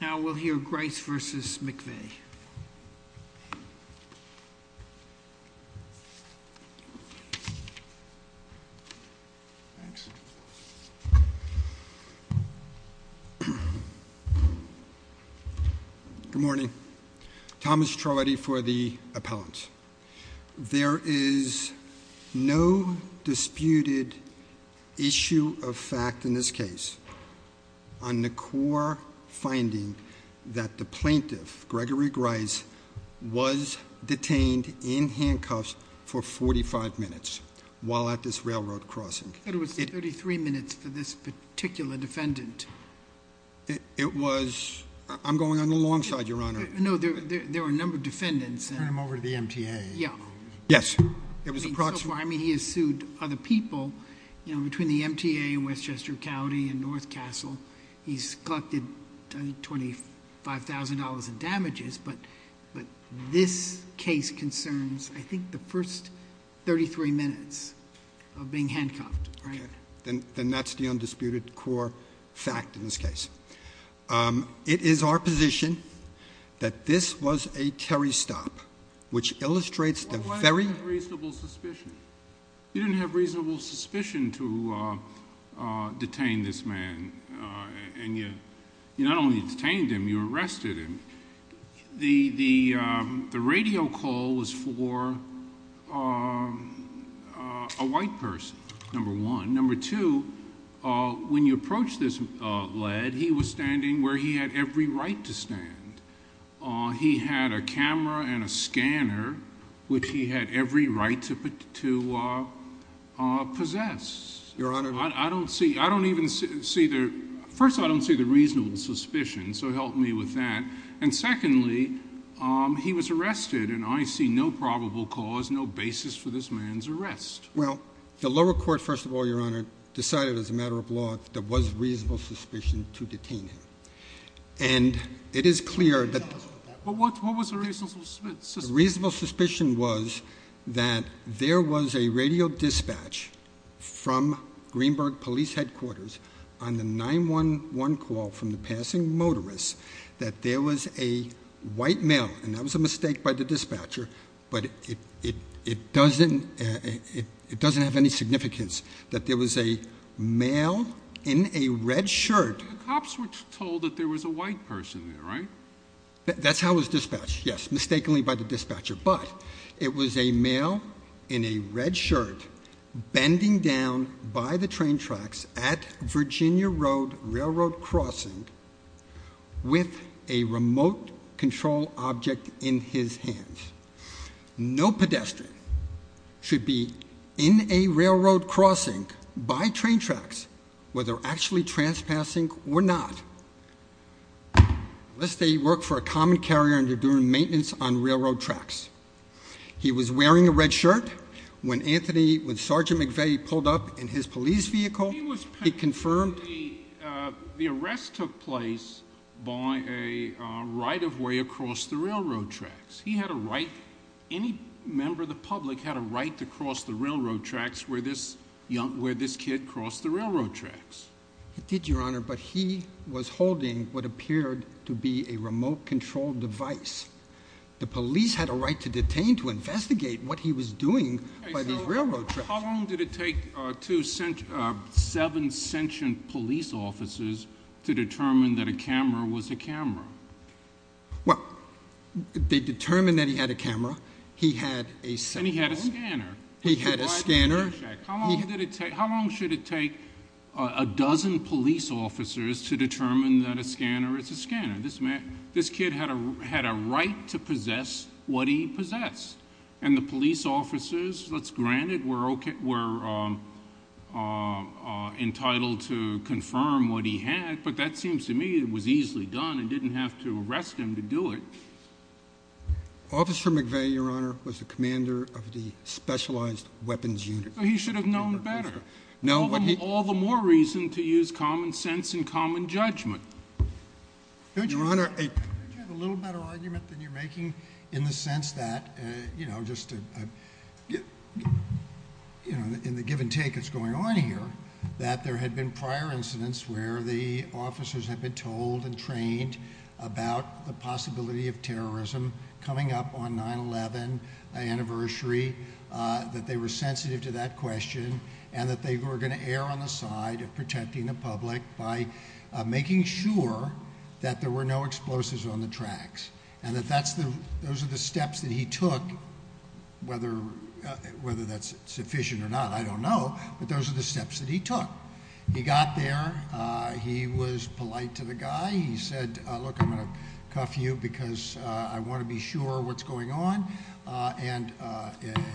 Now we'll hear Grice v. McVeigh. Good morning. Thomas Trollity for the appellant. There is no disputed issue of fact in this case on the core finding that the plaintiff, Gregory Grice, was detained in handcuffs for 45 minutes while at this railroad crossing. But it was 33 minutes for this particular defendant. It was... I'm going on the long side, Your Honor. No, there were a number of defendants. Turn him over to the MTA. Yeah. Yes. It was approximately... He's collected $25,000 in damages, but this case concerns, I think, the first 33 minutes of being handcuffed. Okay. Then that's the undisputed core fact in this case. It is our position that this was a Terry stop, which illustrates the very... Why didn't you have reasonable suspicion? to detain this man? And you not only detained him, you arrested him. The radio call was for a white person, number one. Number two, when you approach this lead, he was standing where he had every right to stand. He had a camera and a scanner, which he had every right to possess. Your Honor... I don't see... I don't even see the... First of all, I don't see the reasonable suspicion, so help me with that. And secondly, he was arrested, and I see no probable cause, no basis for this man's arrest. Well, the lower court, first of all, Your Honor, decided as a matter of law, there was reasonable suspicion to detain him. And it is clear that... Well, what was the reasonable suspicion? The reasonable suspicion was that there was a radio dispatch from Greenberg Police Headquarters on the 911 call from the passing motorist, that there was a white male, and that was a mistake by the dispatcher, but it doesn't have any significance, that there was a male in a red shirt... But the cops were told that there was a white person there, right? That's how it was dispatched, yes, mistakenly by the dispatcher, but it was a male in a red shirt bending down by the train tracks at Virginia Road Railroad Crossing with a remote control object in his hands. No pedestrian should be in a railroad crossing by train tracks where they're actually trespassing or not, unless they work for a common carrier and are doing maintenance on railroad tracks. He was wearing a red shirt when Sergeant McVeigh pulled up in his police vehicle, he confirmed... The arrest took place by a right-of-way across the railroad tracks. He had a right... Any member of the public had a right to cross the railroad tracks where this kid crossed the railroad tracks. He did, Your Honor, but he was holding what appeared to be a remote control device. The police had a right to detain, to investigate what he was doing by these railroad tracks. How long did it take two, seven sentient police officers to determine that a camera was a camera? Well, they determined that he had a camera, he had a... And he had a scanner. He had a scanner. How long should it take a dozen police officers to determine that a scanner is a scanner? This kid had a right to possess what he possessed. And the police officers, granted, were entitled to confirm what he had, but that seems to me it was easily done and didn't have to arrest him to do it. Officer McVeigh, Your Honor, was the commander of the Specialized Weapons Unit. He should have known better. All the more reason to use common sense and common judgment. Your Honor, don't you have a little better argument than you're making in the sense that, you know, just in the give and take that's going on here, that there had been prior incidents where the officers had been told and trained about the possibility of terrorism coming up on 9-11 anniversary, that they were sensitive to that question, and that they were going to err on the side of protecting the public by making sure that there were no explosives on the tracks. And that those are the steps that he took, whether that's sufficient or not, I don't know, but those are the steps that he took. He got there. He was polite to the guy. He said, look, I'm going to cuff you because I want to be sure what's going on. And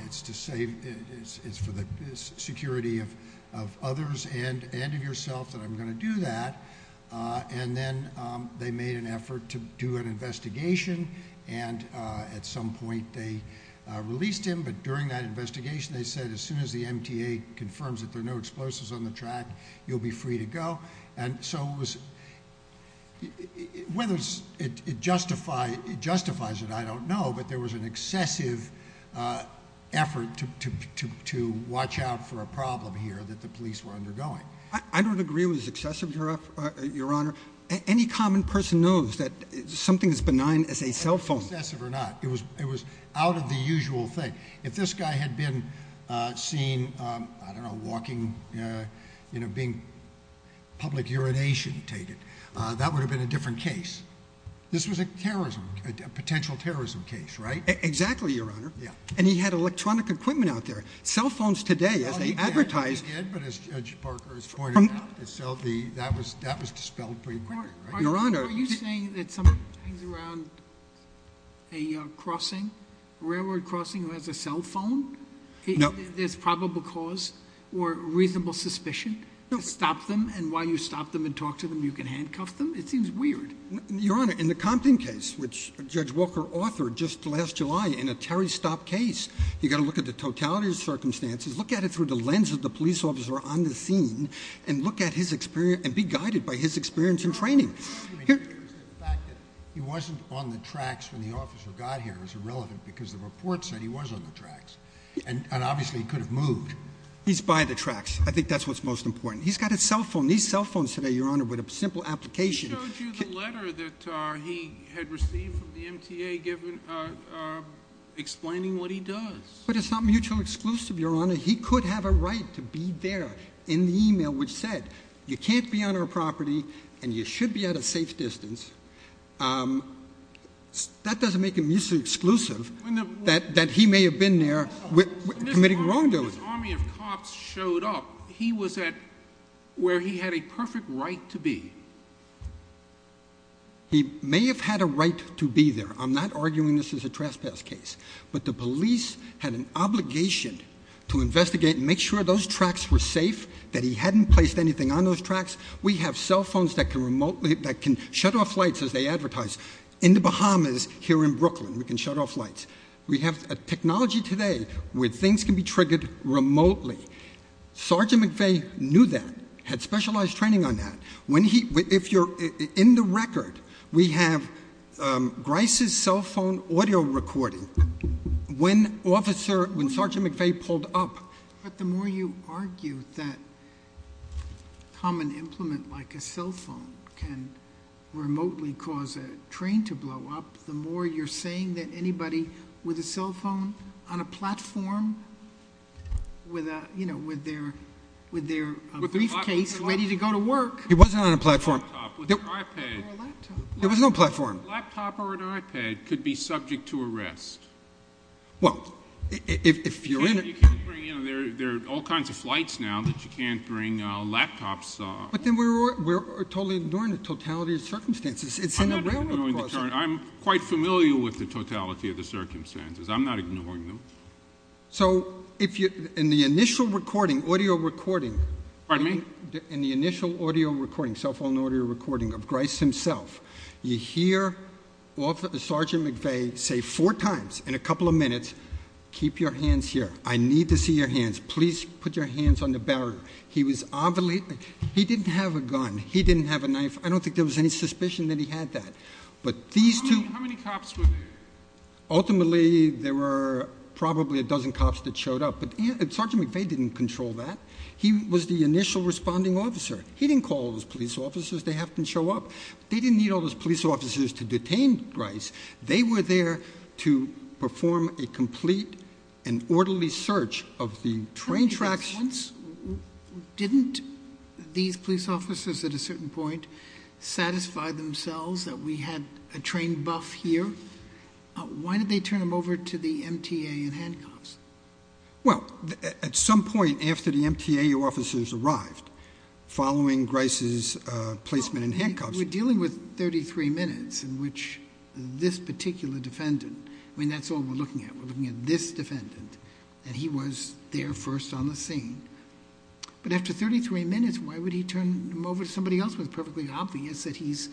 it's to say it's for the security of others and of yourself that I'm going to do that. And then they made an effort to do an investigation, and at some point they released him, but during that investigation, they said as soon as the MTA confirms that there are no explosives on the track, you'll be free to go. And so whether it justifies it, I don't know, but there was an excessive effort to watch out for a problem here that the police were undergoing. I don't agree it was excessive, Your Honor. Any common person knows that something as benign as a cell phone. Whether it was excessive or not, it was out of the usual thing. If this guy had been seen, I don't know, walking, you know, being public urination-tated, that would have been a different case. This was a terrorism, a potential terrorism case, right? Exactly, Your Honor. Yeah. And he had electronic equipment out there. Cell phones today, as they advertise. Yeah, I think he did, but as Judge Parker has pointed out, that was dispelled pretty quickly, right? Your Honor. Are you saying that someone hangs around a crossing, a railroad crossing, who has a cell phone? No. There's probable cause or reasonable suspicion to stop them, and while you stop them and talk to them, you can handcuff them? It seems weird. Your Honor, in the Compton case, which Judge Walker authored just last July in a Terry Stop case, you've got to look at the totality of the circumstances, look at it through the lens of the police officer on the scene, and look at his experience, and be guided by his experience and training. The fact that he wasn't on the tracks when the officer got here is irrelevant, because the report said he was on the tracks, and obviously, he could have moved. He's by the tracks. I think that's what's most important. He's got a cell phone. These cell phones today, Your Honor, with a simple application. He showed you the letter that he had received from the MTA, explaining what he does. But it's not mutual exclusive, Your Honor. He could have a right to be there in the email, which said, you can't be on our property, and you should be at a safe distance. That doesn't make it mutually exclusive that he may have been there committing wrongdoing. When this army of cops showed up, he was at where he had a perfect right to be. He may have had a right to be there. I'm not arguing this is a trespass case. But the police had an obligation to investigate and make sure those tracks were safe, that he hadn't placed anything on those tracks. We have cell phones that can shut off lights, as they advertise, in the Bahamas, here in Brooklyn, we can shut off lights. We have a technology today, where things can be triggered remotely. Sergeant McVeigh knew that, had specialized training on that. If you're in the record, we have Grice's cell phone audio recording. When Sergeant McVeigh pulled up- But the more you argue that common implement, like a cell phone, can remotely cause a train to blow up, the more you're saying that anybody with a cell phone on a platform, with their briefcase, ready to go to work- He wasn't on a platform. Or a laptop. Or a laptop. There was no platform. A laptop or an iPad could be subject to arrest. Well, if you're in a- You can't bring in, there are all kinds of flights now that you can't bring laptops. But then we're totally ignoring the totality of circumstances. It's in a railroad crossing. I'm quite familiar with the totality of the circumstances. I'm not ignoring them. So, in the initial recording, audio recording- Pardon me? In the initial audio recording, cell phone audio recording of Grice himself, you hear Sergeant McVeigh say four times in a couple of minutes, keep your hands here. I need to see your hands. Please put your hands on the barrel. He was obviously, he didn't have a gun. He didn't have a knife. I don't think there was any suspicion that he had that. But these two- How many cops were there? Ultimately, there were probably a dozen cops that showed up. But Sergeant McVeigh didn't control that. He was the initial responding officer. He didn't call those police officers. They have to show up. They didn't need all those police officers to detain Grice. They were there to perform a complete and orderly search of the train tracks. Didn't these police officers, at a certain point, satisfy themselves that we had a train buff here? Why did they turn him over to the MTA in handcuffs? Well, at some point after the MTA officers arrived, following Grice's placement in handcuffs- We're dealing with 33 minutes in which this particular defendant, I mean, that's all we're looking at. We're looking at this defendant, and he was there first on the scene. But after 33 minutes, why would he turn him over to somebody else? It was perfectly obvious that he's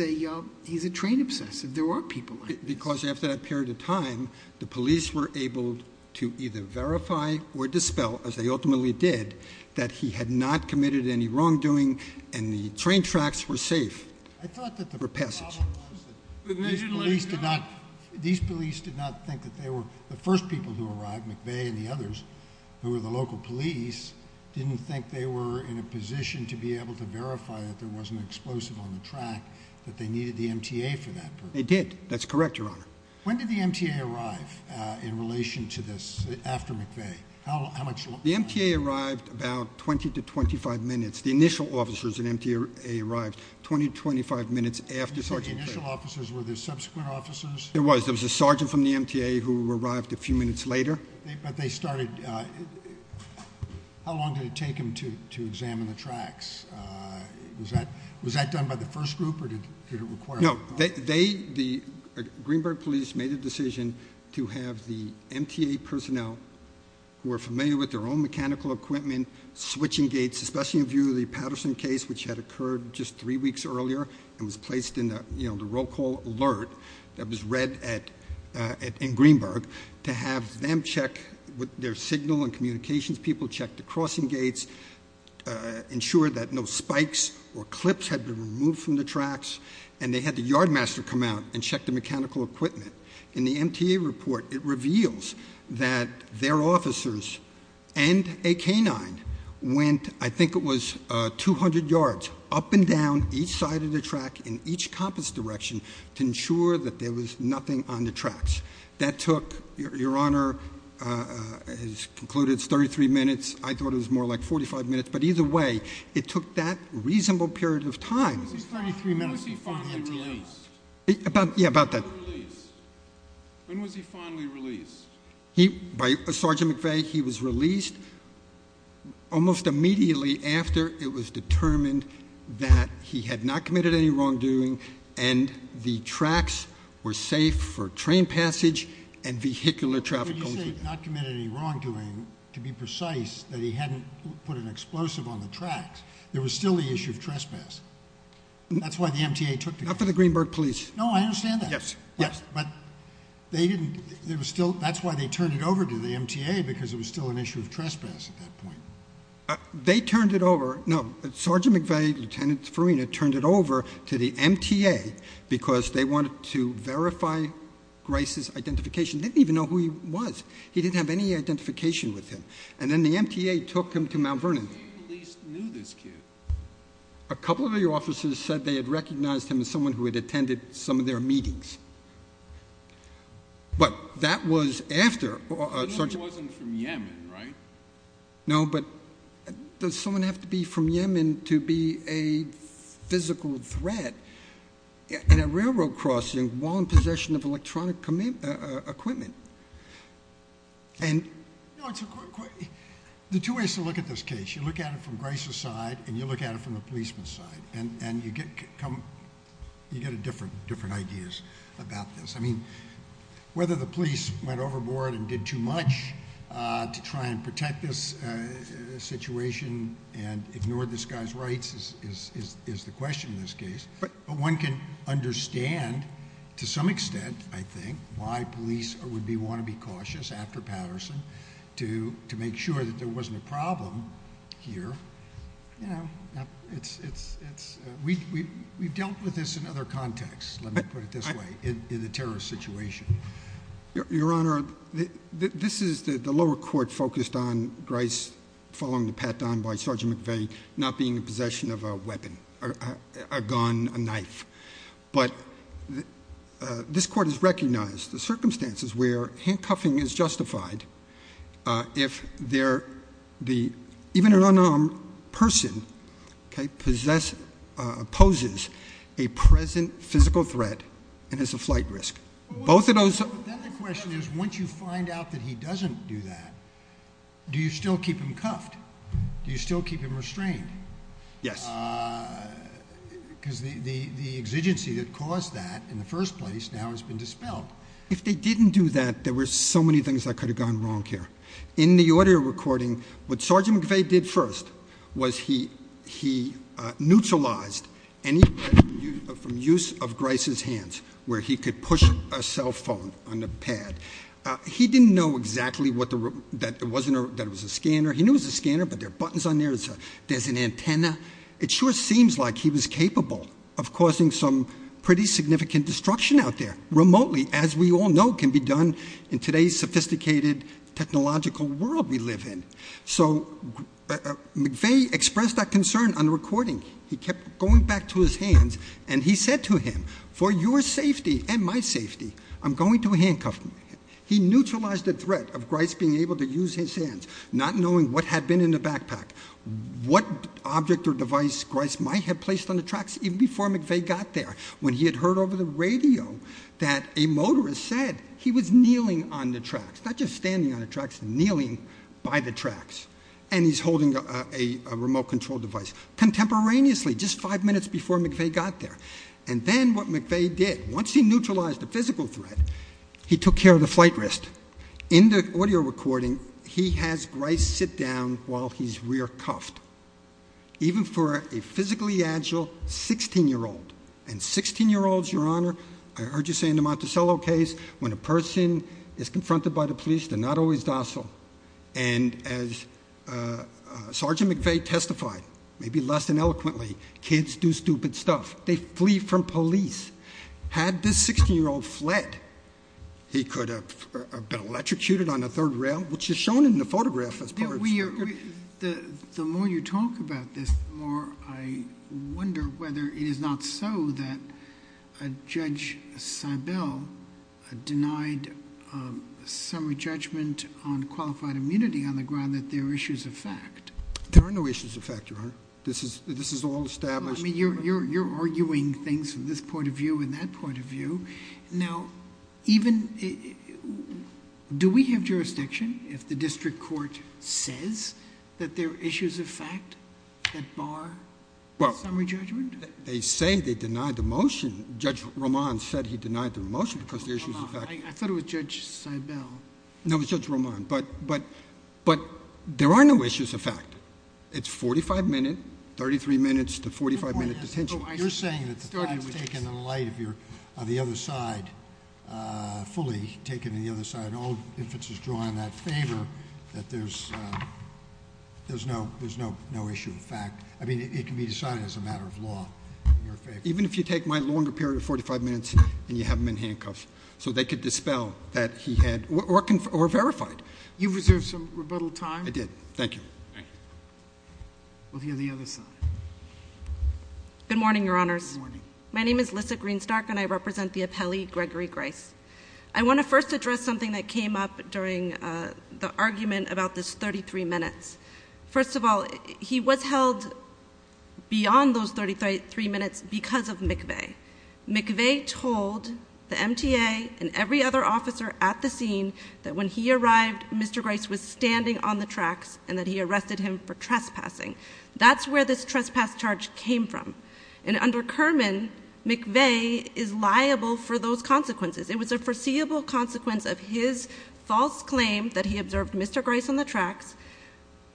a train obsessive. There are people like this. Because after that period of time, the police were able to either verify or dispel, as they ultimately did, that he had not committed any wrongdoing and the train tracks were safe. I thought that the- For passage. But they didn't let him go? These police did not think that they were, the first people who arrived, McVeigh and the others, who were the local police, didn't think they were in a position to be able to verify that there wasn't an explosive on the track, that they needed the MTA for that purpose. They did. That's correct, your honor. When did the MTA arrive in relation to this, after McVeigh? The MTA arrived about 20 to 25 minutes. The initial officers in MTA arrived 20 to 25 minutes after Sergeant- You said the initial officers, were there subsequent officers? There was, there was a sergeant from the MTA who arrived a few minutes later. But they started, how long did it take them to examine the tracks? Was that done by the first group, or did it require- No, the Greenberg police made a decision to have the MTA personnel who are familiar with their own mechanical equipment, switching gates, especially in view of the Patterson case, which had occurred just three weeks earlier, and was placed in the roll call alert that was read in Greenberg, to have them check with their signal and communications people, check the crossing gates, ensure that no spikes or clips had been removed from the tracks, and they had the yardmaster come out and check the mechanical equipment. In the MTA report, it reveals that their officers and a canine went, I think it was 200 yards, up and down each side of the track in each compass direction to ensure that there was nothing on the tracks. That took, your honor, it's concluded it's 33 minutes, I thought it was more like 45 minutes. But either way, it took that reasonable period of time- It was 33 minutes before he released. Yeah, about that. When was he finally released? By Sergeant McVeigh, he was released almost immediately after it was determined that he had not committed any wrongdoing and the tracks were safe for train passage and vehicular traffic. When you say not committed any wrongdoing, to be precise, that he hadn't put an explosive on the tracks. There was still the issue of trespass. That's why the MTA took the- Not for the Greenberg police. No, I understand that. Yes, yes. But that's why they turned it over to the MTA, because it was still an issue of trespass at that point. They turned it over, no, Sergeant McVeigh, Lieutenant Farina turned it over to the MTA because they wanted to verify Grace's identification, didn't even know who he was. He didn't have any identification with him. And then the MTA took him to Mount Vernon. How many police knew this kid? A couple of the officers said they had recognized him as someone who had attended some of their meetings. But that was after- He wasn't from Yemen, right? No, but does someone have to be from Yemen to be a physical threat in a railroad crossing while in possession of electronic equipment? And- No, it's a- The two ways to look at this case, you look at it from Grace's side and you look at it from the policeman's side, and you get different ideas about this. I mean, whether the police went overboard and did too much to try and protect this situation and ignored this guy's rights is the question in this case. But one can understand, to some extent, I think, why police would want to be cautious after Patterson to make sure that there wasn't a problem here. We've dealt with this in other contexts, let me put it this way, in the terrorist situation. Your Honor, this is the lower court focused on Grace following the pat down by Sergeant McVeigh, not being in possession of a weapon, a gun, a knife. But this court has recognized the circumstances where handcuffing is justified if even an unarmed person poses a present physical threat and has a flight risk. Both of those- But then the question is, once you find out that he doesn't do that, do you still keep him cuffed? Do you still keep him restrained? Yes. Because the exigency that caused that in the first place now has been dispelled. If they didn't do that, there were so many things that could have gone wrong here. In the audio recording, what Sergeant McVeigh did first was he neutralized any use of Grace's hands where he could push a cell phone on the pad. He didn't know exactly that it was a scanner. He knew it was a scanner, but there are buttons on there, there's an antenna. It sure seems like he was capable of causing some pretty significant destruction out there, remotely, as we all know can be done in today's sophisticated technological world we live in. So McVeigh expressed that concern on the recording. He kept going back to his hands, and he said to him, for your safety and my safety, I'm going to handcuff me. He neutralized the threat of Grace being able to use his hands, not knowing what had been in the backpack, what object or device Grace might have placed on the tracks even before McVeigh got there. When he had heard over the radio that a motorist said he was kneeling on the tracks, not just standing on the tracks, kneeling by the tracks, and he's holding a remote control device. Contemporaneously, just five minutes before McVeigh got there. And then what McVeigh did, once he neutralized the physical threat, he took care of the flight wrist. In the audio recording, he has Grace sit down while he's rear cuffed. Even for a physically agile 16 year old, and 16 year olds, your honor, I heard you say in the Monticello case, when a person is confronted by the police, they're not always docile. And as Sergeant McVeigh testified, maybe less than eloquently, kids do stupid stuff, they flee from police. Had this 16 year old fled, he could have been electrocuted on the third rail, which is shown in the photograph as part of- We are, the more you talk about this, the more I wonder whether it is not so that Judge Seibel denied summary judgment on qualified immunity on the ground that there are issues of fact. There are no issues of fact, your honor. This is all established- I mean, you're arguing things from this point of view and that point of view. Now, do we have jurisdiction if the district court says that there are issues of fact that bar summary judgment? They say they denied the motion. Judge Roman said he denied the motion because the issues of fact- I thought it was Judge Seibel. No, it was Judge Roman, but there are no issues of fact. It's 45 minute, 33 minutes to 45 minute detention. You're saying that the fact is taken in light of the other side, fully taken in the other side. All inferences draw in that favor that there's no issue of fact. I mean, it can be decided as a matter of law in your favor. Even if you take my longer period of 45 minutes and you have him in handcuffs, so they could dispel that he had, or verify it. You've reserved some rebuttal time. I did, thank you. We'll hear the other side. Good morning, your honors. Good morning. My name is Lissa Greenstark and I represent the appellee Gregory Grice. I want to first address something that came up during the argument about this 33 minutes. First of all, he was held beyond those 33 minutes because of McVeigh. McVeigh told the MTA and every other officer at the scene that when he arrived, Mr. Grice was standing on the tracks and that he arrested him for trespassing. That's where this trespass charge came from. And under Kerman, McVeigh is liable for those consequences. It was a foreseeable consequence of his false claim that he observed Mr. Grice on the tracks,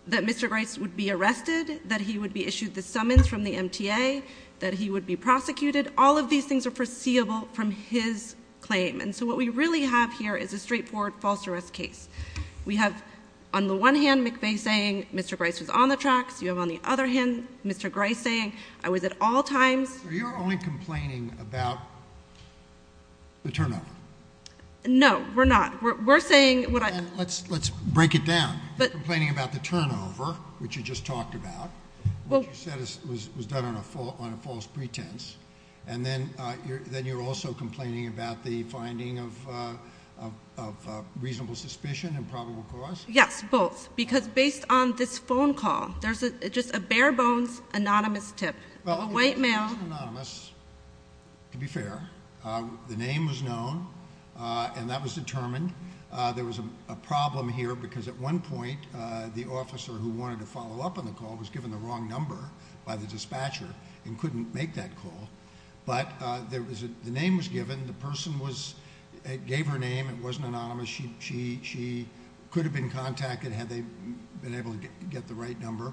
that Mr. Grice would be arrested, that he would be issued the summons from the MTA, that he would be prosecuted. All of these things are foreseeable from his claim, and so what we really have here is a straightforward false arrest case. We have, on the one hand, McVeigh saying, Mr. Grice was on the tracks. You have, on the other hand, Mr. Grice saying, I was at all times- So you're only complaining about the turnover. No, we're not. We're saying what I- Let's break it down. You're complaining about the turnover, which you just talked about, which you said was done on a false pretense. And then you're also complaining about the finding of reasonable suspicion and probable cause? Yes, both. Because based on this phone call, there's just a bare bones anonymous tip. A white male- Well, he wasn't anonymous, to be fair. The name was known, and that was determined. There was a problem here, because at one point, the officer who wanted to follow up on the call was given the wrong number by the dispatcher and couldn't make that call, but the name was given. The person gave her name. It wasn't anonymous. She could have been contacted had they been able to get the right number.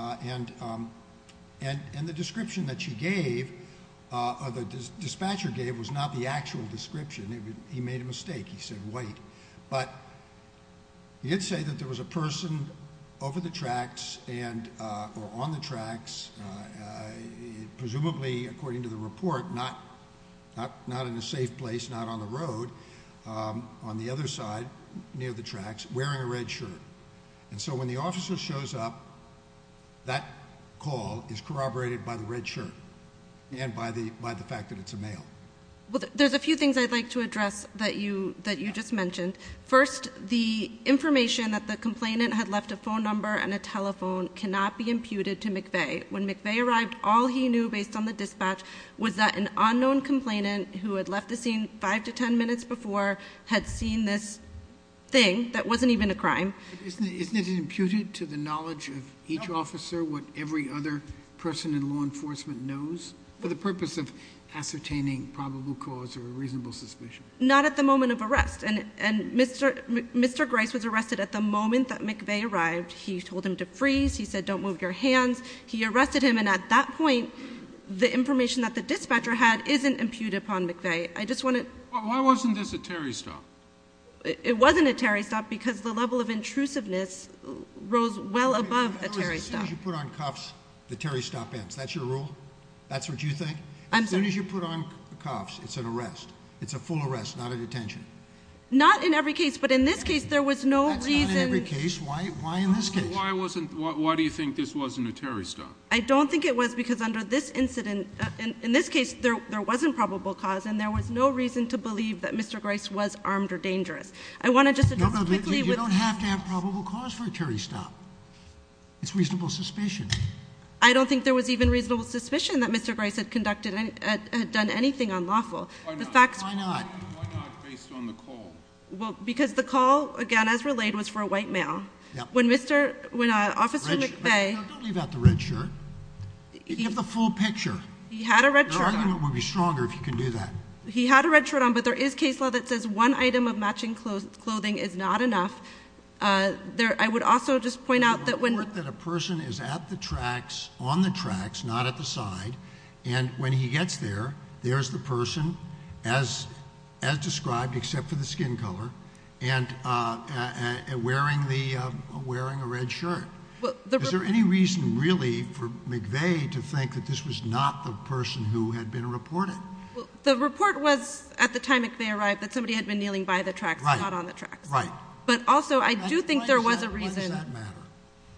And the description that she gave, or the dispatcher gave, was not the actual description. He made a mistake. He said white. But he did say that there was a person over the tracks, or on the tracks, presumably according to the report, not in a safe place, not on the road, on the other side near the tracks, wearing a red shirt. And so when the officer shows up, that call is corroborated by the red shirt and by the fact that it's a male. Well, there's a few things I'd like to address that you just mentioned. First, the information that the complainant had left a phone number and a telephone cannot be imputed to McVeigh. When McVeigh arrived, all he knew based on the dispatch was that an unknown complainant who had left the scene five to ten minutes before had seen this thing that wasn't even a crime. Isn't it imputed to the knowledge of each officer what every other person in law enforcement knows? For the purpose of ascertaining probable cause or a reasonable suspicion. Not at the moment of arrest, and Mr. Grice was arrested at the moment that McVeigh arrived. He told him to freeze. He said don't move your hands. He arrested him, and at that point, the information that the dispatcher had isn't imputed upon McVeigh. I just want to- Why wasn't this a Terry stop? It wasn't a Terry stop because the level of intrusiveness rose well above a Terry stop. As soon as you put on cuffs, the Terry stop ends. That's your rule? That's what you think? As soon as you put on cuffs, it's an arrest. It's a full arrest, not a detention. Not in every case, but in this case, there was no reason- That's not in every case. Why in this case? Why do you think this wasn't a Terry stop? I don't think it was because under this incident, in this case, there wasn't probable cause, and there was no reason to believe that Mr. Grice was armed or dangerous. I want to just- No, but you don't have to have probable cause for a Terry stop. It's reasonable suspicion. I don't think there was even reasonable suspicion that Mr. Grice had conducted, had done anything unlawful. The facts- Why not? Why not based on the call? Well, because the call, again, as relayed, was for a white male. When Mr., when Officer McVeigh- Don't leave out the red shirt. Give the full picture. He had a red shirt on. Your argument would be stronger if you can do that. He had a red shirt on, but there is case law that says one item of matching clothing is not enough. There, I would also just point out that when- The report that a person is at the tracks, on the tracks, not at the side, and when he gets there, there's the person, as described, except for the skin color, and wearing a red shirt. Is there any reason, really, for McVeigh to think that this was not the person who had been reported? The report was, at the time McVeigh arrived, that somebody had been kneeling by the tracks, not on the tracks. Right. But also, I do think there was a reason- Why does that matter?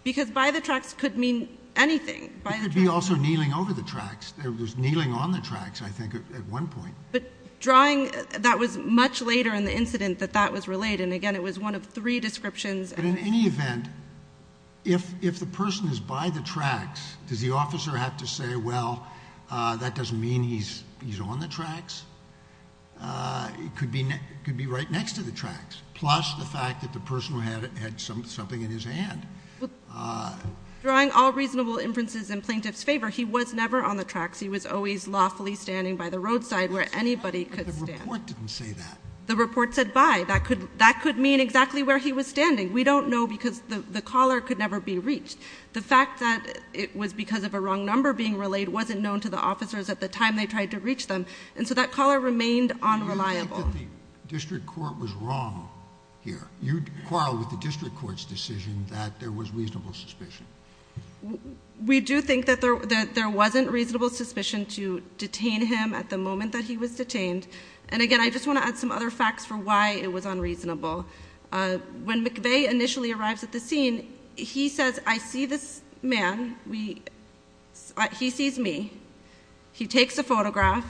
Because by the tracks could mean anything. By the tracks- It could be also kneeling over the tracks. There was kneeling on the tracks, I think, at one point. But drawing, that was much later in the incident that that was relayed. And again, it was one of three descriptions. But in any event, if the person is by the tracks, does the officer have to say, well, that doesn't mean he's on the tracks? It could be right next to the tracks, plus the fact that the person had something in his hand. Drawing all reasonable inferences in plaintiff's favor, he was never on the tracks. He was always lawfully standing by the roadside where anybody could stand. But the report didn't say that. The report said, bye. That could mean exactly where he was standing. We don't know because the caller could never be reached. The fact that it was because of a wrong number being relayed wasn't known to the officers at the time they tried to reach them. And so that caller remained unreliable. Do you think that the district court was wrong here? You'd quarrel with the district court's decision that there was reasonable suspicion. We do think that there wasn't reasonable suspicion to detain him at the moment that he was detained. And again, I just want to add some other facts for why it was unreasonable. When McVeigh initially arrives at the scene, he says, I see this man, he sees me. He takes a photograph.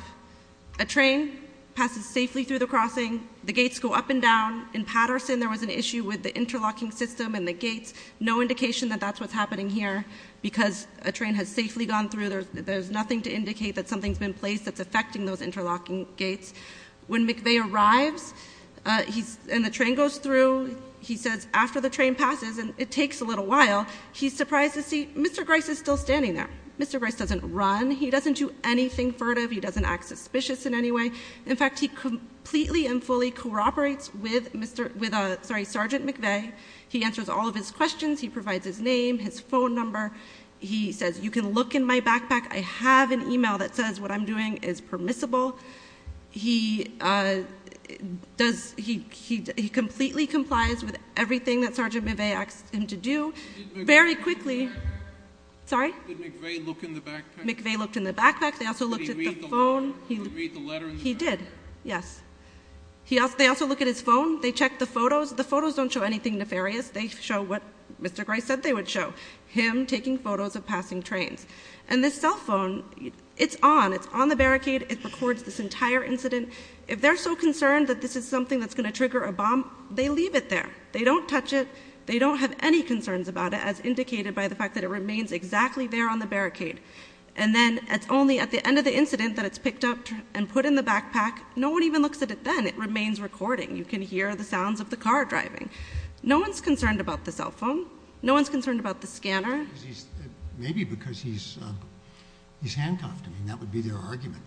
A train passes safely through the crossing. The gates go up and down. In Patterson, there was an issue with the interlocking system and the gates. No indication that that's what's happening here, because a train has safely gone through. There's nothing to indicate that something's been placed that's affecting those interlocking gates. When McVeigh arrives, and the train goes through, he says, after the train passes, and it takes a little while. He's surprised to see Mr. Grice is still standing there. Mr. Grice doesn't run, he doesn't do anything furtive, he doesn't act suspicious in any way. In fact, he completely and fully cooperates with Sergeant McVeigh. He answers all of his questions, he provides his name, his phone number. He says, you can look in my backpack. I have an email that says what I'm doing is permissible. He completely complies with everything that Sergeant McVeigh asked him to do. Very quickly- Did McVeigh look in the backpack? McVeigh looked in the backpack. They also looked at the phone. He did, yes. They also look at his phone, they check the photos. The photos don't show anything nefarious. They show what Mr. Grice said they would show, him taking photos of passing trains. And this cell phone, it's on, it's on the barricade, it records this entire incident. If they're so concerned that this is something that's going to trigger a bomb, they leave it there. They don't touch it. They don't have any concerns about it as indicated by the fact that it remains exactly there on the barricade. And then it's only at the end of the incident that it's picked up and put in the backpack. No one even looks at it then. It remains recording. You can hear the sounds of the car driving. No one's concerned about the cell phone. No one's concerned about the scanner. Maybe because he's handcuffed, I mean, that would be their argument.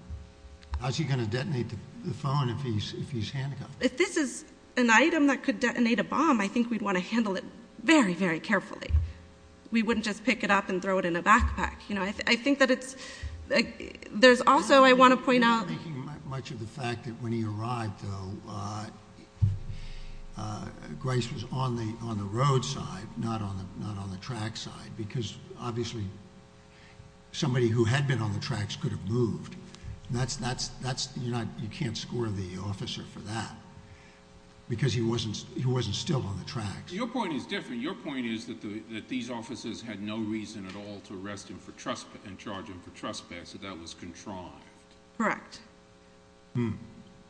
How's he going to detonate the phone if he's handcuffed? If this is an item that could detonate a bomb, I think we'd want to handle it very, very carefully. We wouldn't just pick it up and throw it in a backpack. I think that it's, there's also, I want to point out- I'm not making much of the fact that when he arrived though, Grice was on the roadside, not on the track side. Because obviously, somebody who had been on the tracks could have moved. And that's, you can't score the officer for that, because he wasn't still on the tracks. Your point is different. Your point is that these officers had no reason at all to arrest him and charge him for trespass, so that was contrived. Correct.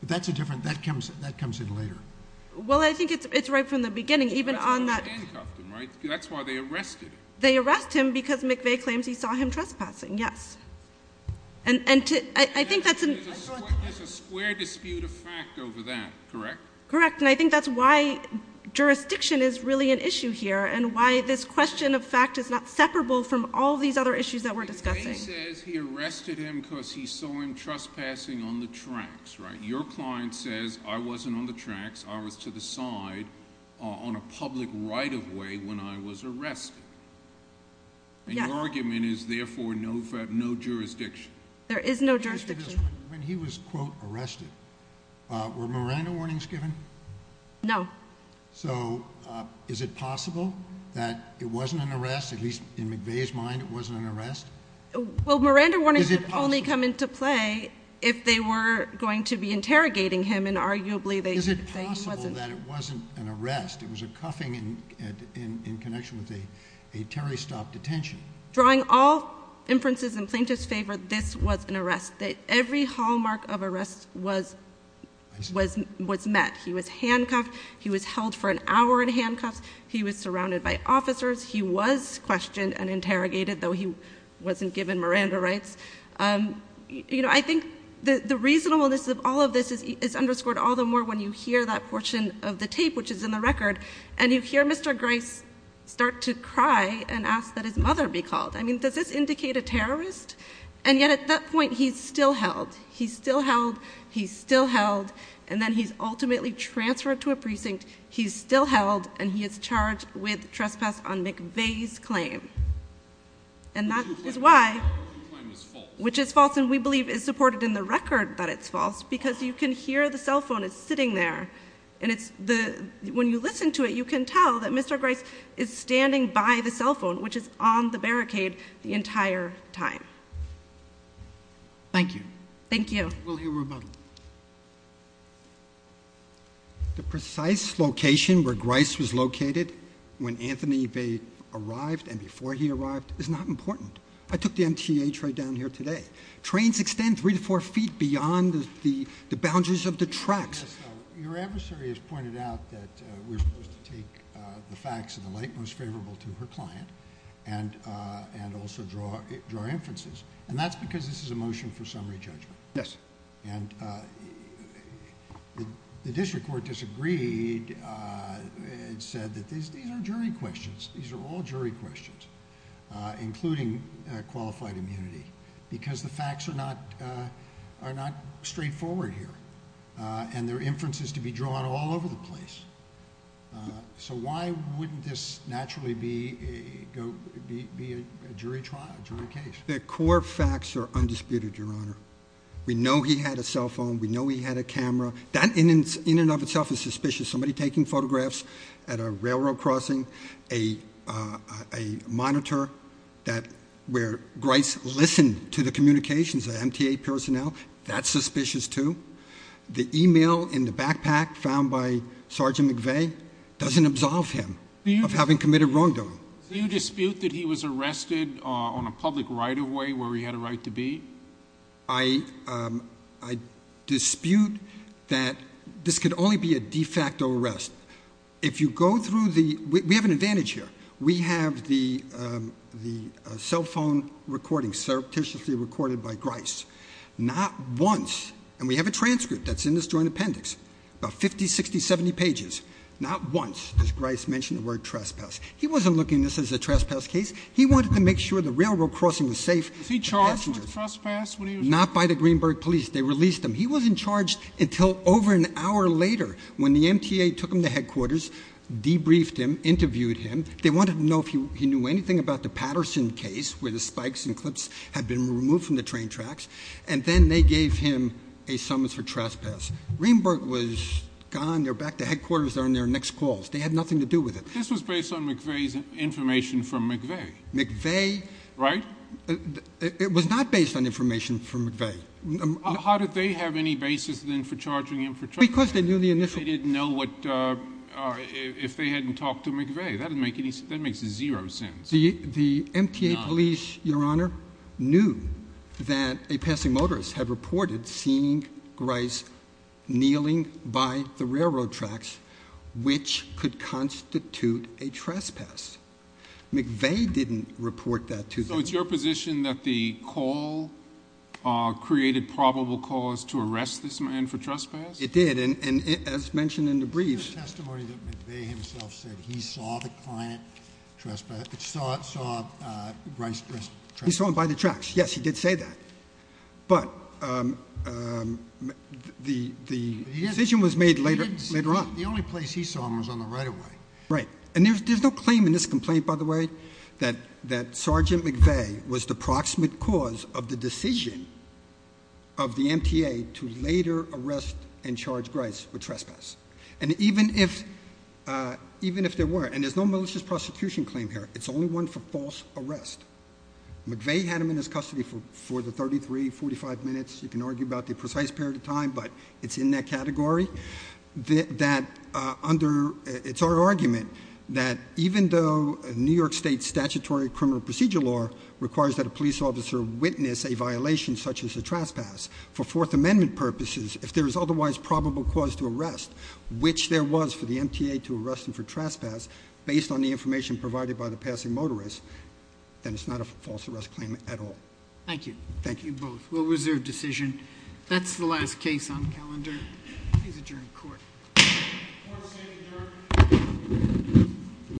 That's a different, that comes in later. Well, I think it's right from the beginning, even on that- That's why they handcuffed him, right? That's why they arrested him. They arrest him because McVeigh claims he saw him trespassing, yes. And I think that's an- There's a square dispute of fact over that, correct? Correct, and I think that's why jurisdiction is really an issue here, and why this question of fact is not separable from all these other issues that we're discussing. McVeigh says he arrested him because he saw him trespassing on the tracks, right? Your client says, I wasn't on the tracks, I was to the side on a public right of way when I was arrested. And your argument is, therefore, no jurisdiction. There is no jurisdiction. When he was, quote, arrested, were Miranda warnings given? No. So, is it possible that it wasn't an arrest, at least in McVeigh's mind, it wasn't an arrest? Well, Miranda warnings would only come into play if they were going to be interrogating him, and arguably they- Is it possible that it wasn't an arrest, it was a cuffing in connection with a Terry stop detention? Drawing all inferences in plaintiff's favor, this was an arrest. Every hallmark of arrest was met. He was handcuffed. He was held for an hour in handcuffs. He was surrounded by officers. He was questioned and interrogated, though he wasn't given Miranda rights. I think the reasonableness of all of this is underscored all the more when you hear that portion of the tape, which is in the record. And you hear Mr. Grice start to cry and ask that his mother be called. I mean, does this indicate a terrorist? And yet at that point, he's still held. He's still held, he's still held, and then he's ultimately transferred to a precinct. He's still held, and he is charged with trespass on McVeigh's claim. And that is why- Which you claim is false. Which is false, and we believe is supported in the record that it's false, because you can hear the cell phone is sitting there. And when you listen to it, you can tell that Mr. Grice is standing by the cell phone, which is on the barricade the entire time. Thank you. Thank you. We'll hear rebuttal. The precise location where Grice was located when Anthony Vade arrived and before he arrived is not important. I took the MTA train down here today. Trains extend three to four feet beyond the boundaries of the tracks. Your adversary has pointed out that we're supposed to take the facts of the late most favorable to her client and also draw inferences. And that's because this is a motion for summary judgment. Yes. And the district court disagreed and said that these are jury questions. These are all jury questions, including qualified immunity. Because the facts are not straightforward here, and there are inferences to be drawn all over the place. So why wouldn't this naturally be a jury trial, jury case? The core facts are undisputed, Your Honor. We know he had a cell phone. We know he had a camera. That in and of itself is suspicious. Somebody taking photographs at a railroad crossing. A monitor where Grice listened to the communications of MTA personnel, that's suspicious too. The email in the backpack found by Sergeant McVay doesn't absolve him of having committed wrongdoing. Do you dispute that he was arrested on a public right of way where he had a right to be? I dispute that this could only be a de facto arrest. If you go through the, we have an advantage here. We have the cell phone recording, surreptitiously recorded by Grice. Not once, and we have a transcript that's in this joint appendix, about 50, 60, 70 pages. Not once does Grice mention the word trespass. He wasn't looking at this as a trespass case. He wanted to make sure the railroad crossing was safe. Was he charged with trespass when he was- Not by the Greenberg police. They released him. He wasn't charged until over an hour later when the MTA took him to headquarters, debriefed him, interviewed him. They wanted to know if he knew anything about the Patterson case, where the spikes and clips had been removed from the train tracks. And then they gave him a summons for trespass. Greenberg was gone, they're back at headquarters, they're on their next calls. They had nothing to do with it. This was based on McVeigh's information from McVeigh. McVeigh- Right? It was not based on information from McVeigh. How did they have any basis then for charging him for trespassing? Because they knew the initial- They didn't know if they hadn't talked to McVeigh. That makes zero sense. The MTA police, Your Honor, knew that a passing motorist had reported seeing Grice kneeling by the railroad tracks, which could constitute a trespass. McVeigh didn't report that to them. So it's your position that the call created probable cause to arrest this man for trespass? It did, and as mentioned in the briefs- It's just a testimony that McVeigh himself said he saw the client trespass, saw Grice- He saw him by the tracks, yes, he did say that. But the decision was made later on. The only place he saw him was on the right of way. Right, and there's no claim in this complaint, by the way, that Sergeant McVeigh was the proximate cause of the decision of the MTA to later arrest and charge Grice for trespass. And even if there weren't, and there's no malicious prosecution claim here, it's only one for false arrest. McVeigh had him in his custody for the 33, 45 minutes. You can argue about the precise period of time, but it's in that category. It's our argument that even though New York State's statutory criminal procedure law requires that a police officer witness a violation such as a trespass, for Fourth Amendment purposes, if there is otherwise probable cause to arrest, which there was for the MTA to arrest him for then it's not a false arrest claim at all. Thank you. Thank you both. We'll reserve decision. That's the last case on calendar. Please adjourn court. Court is adjourned.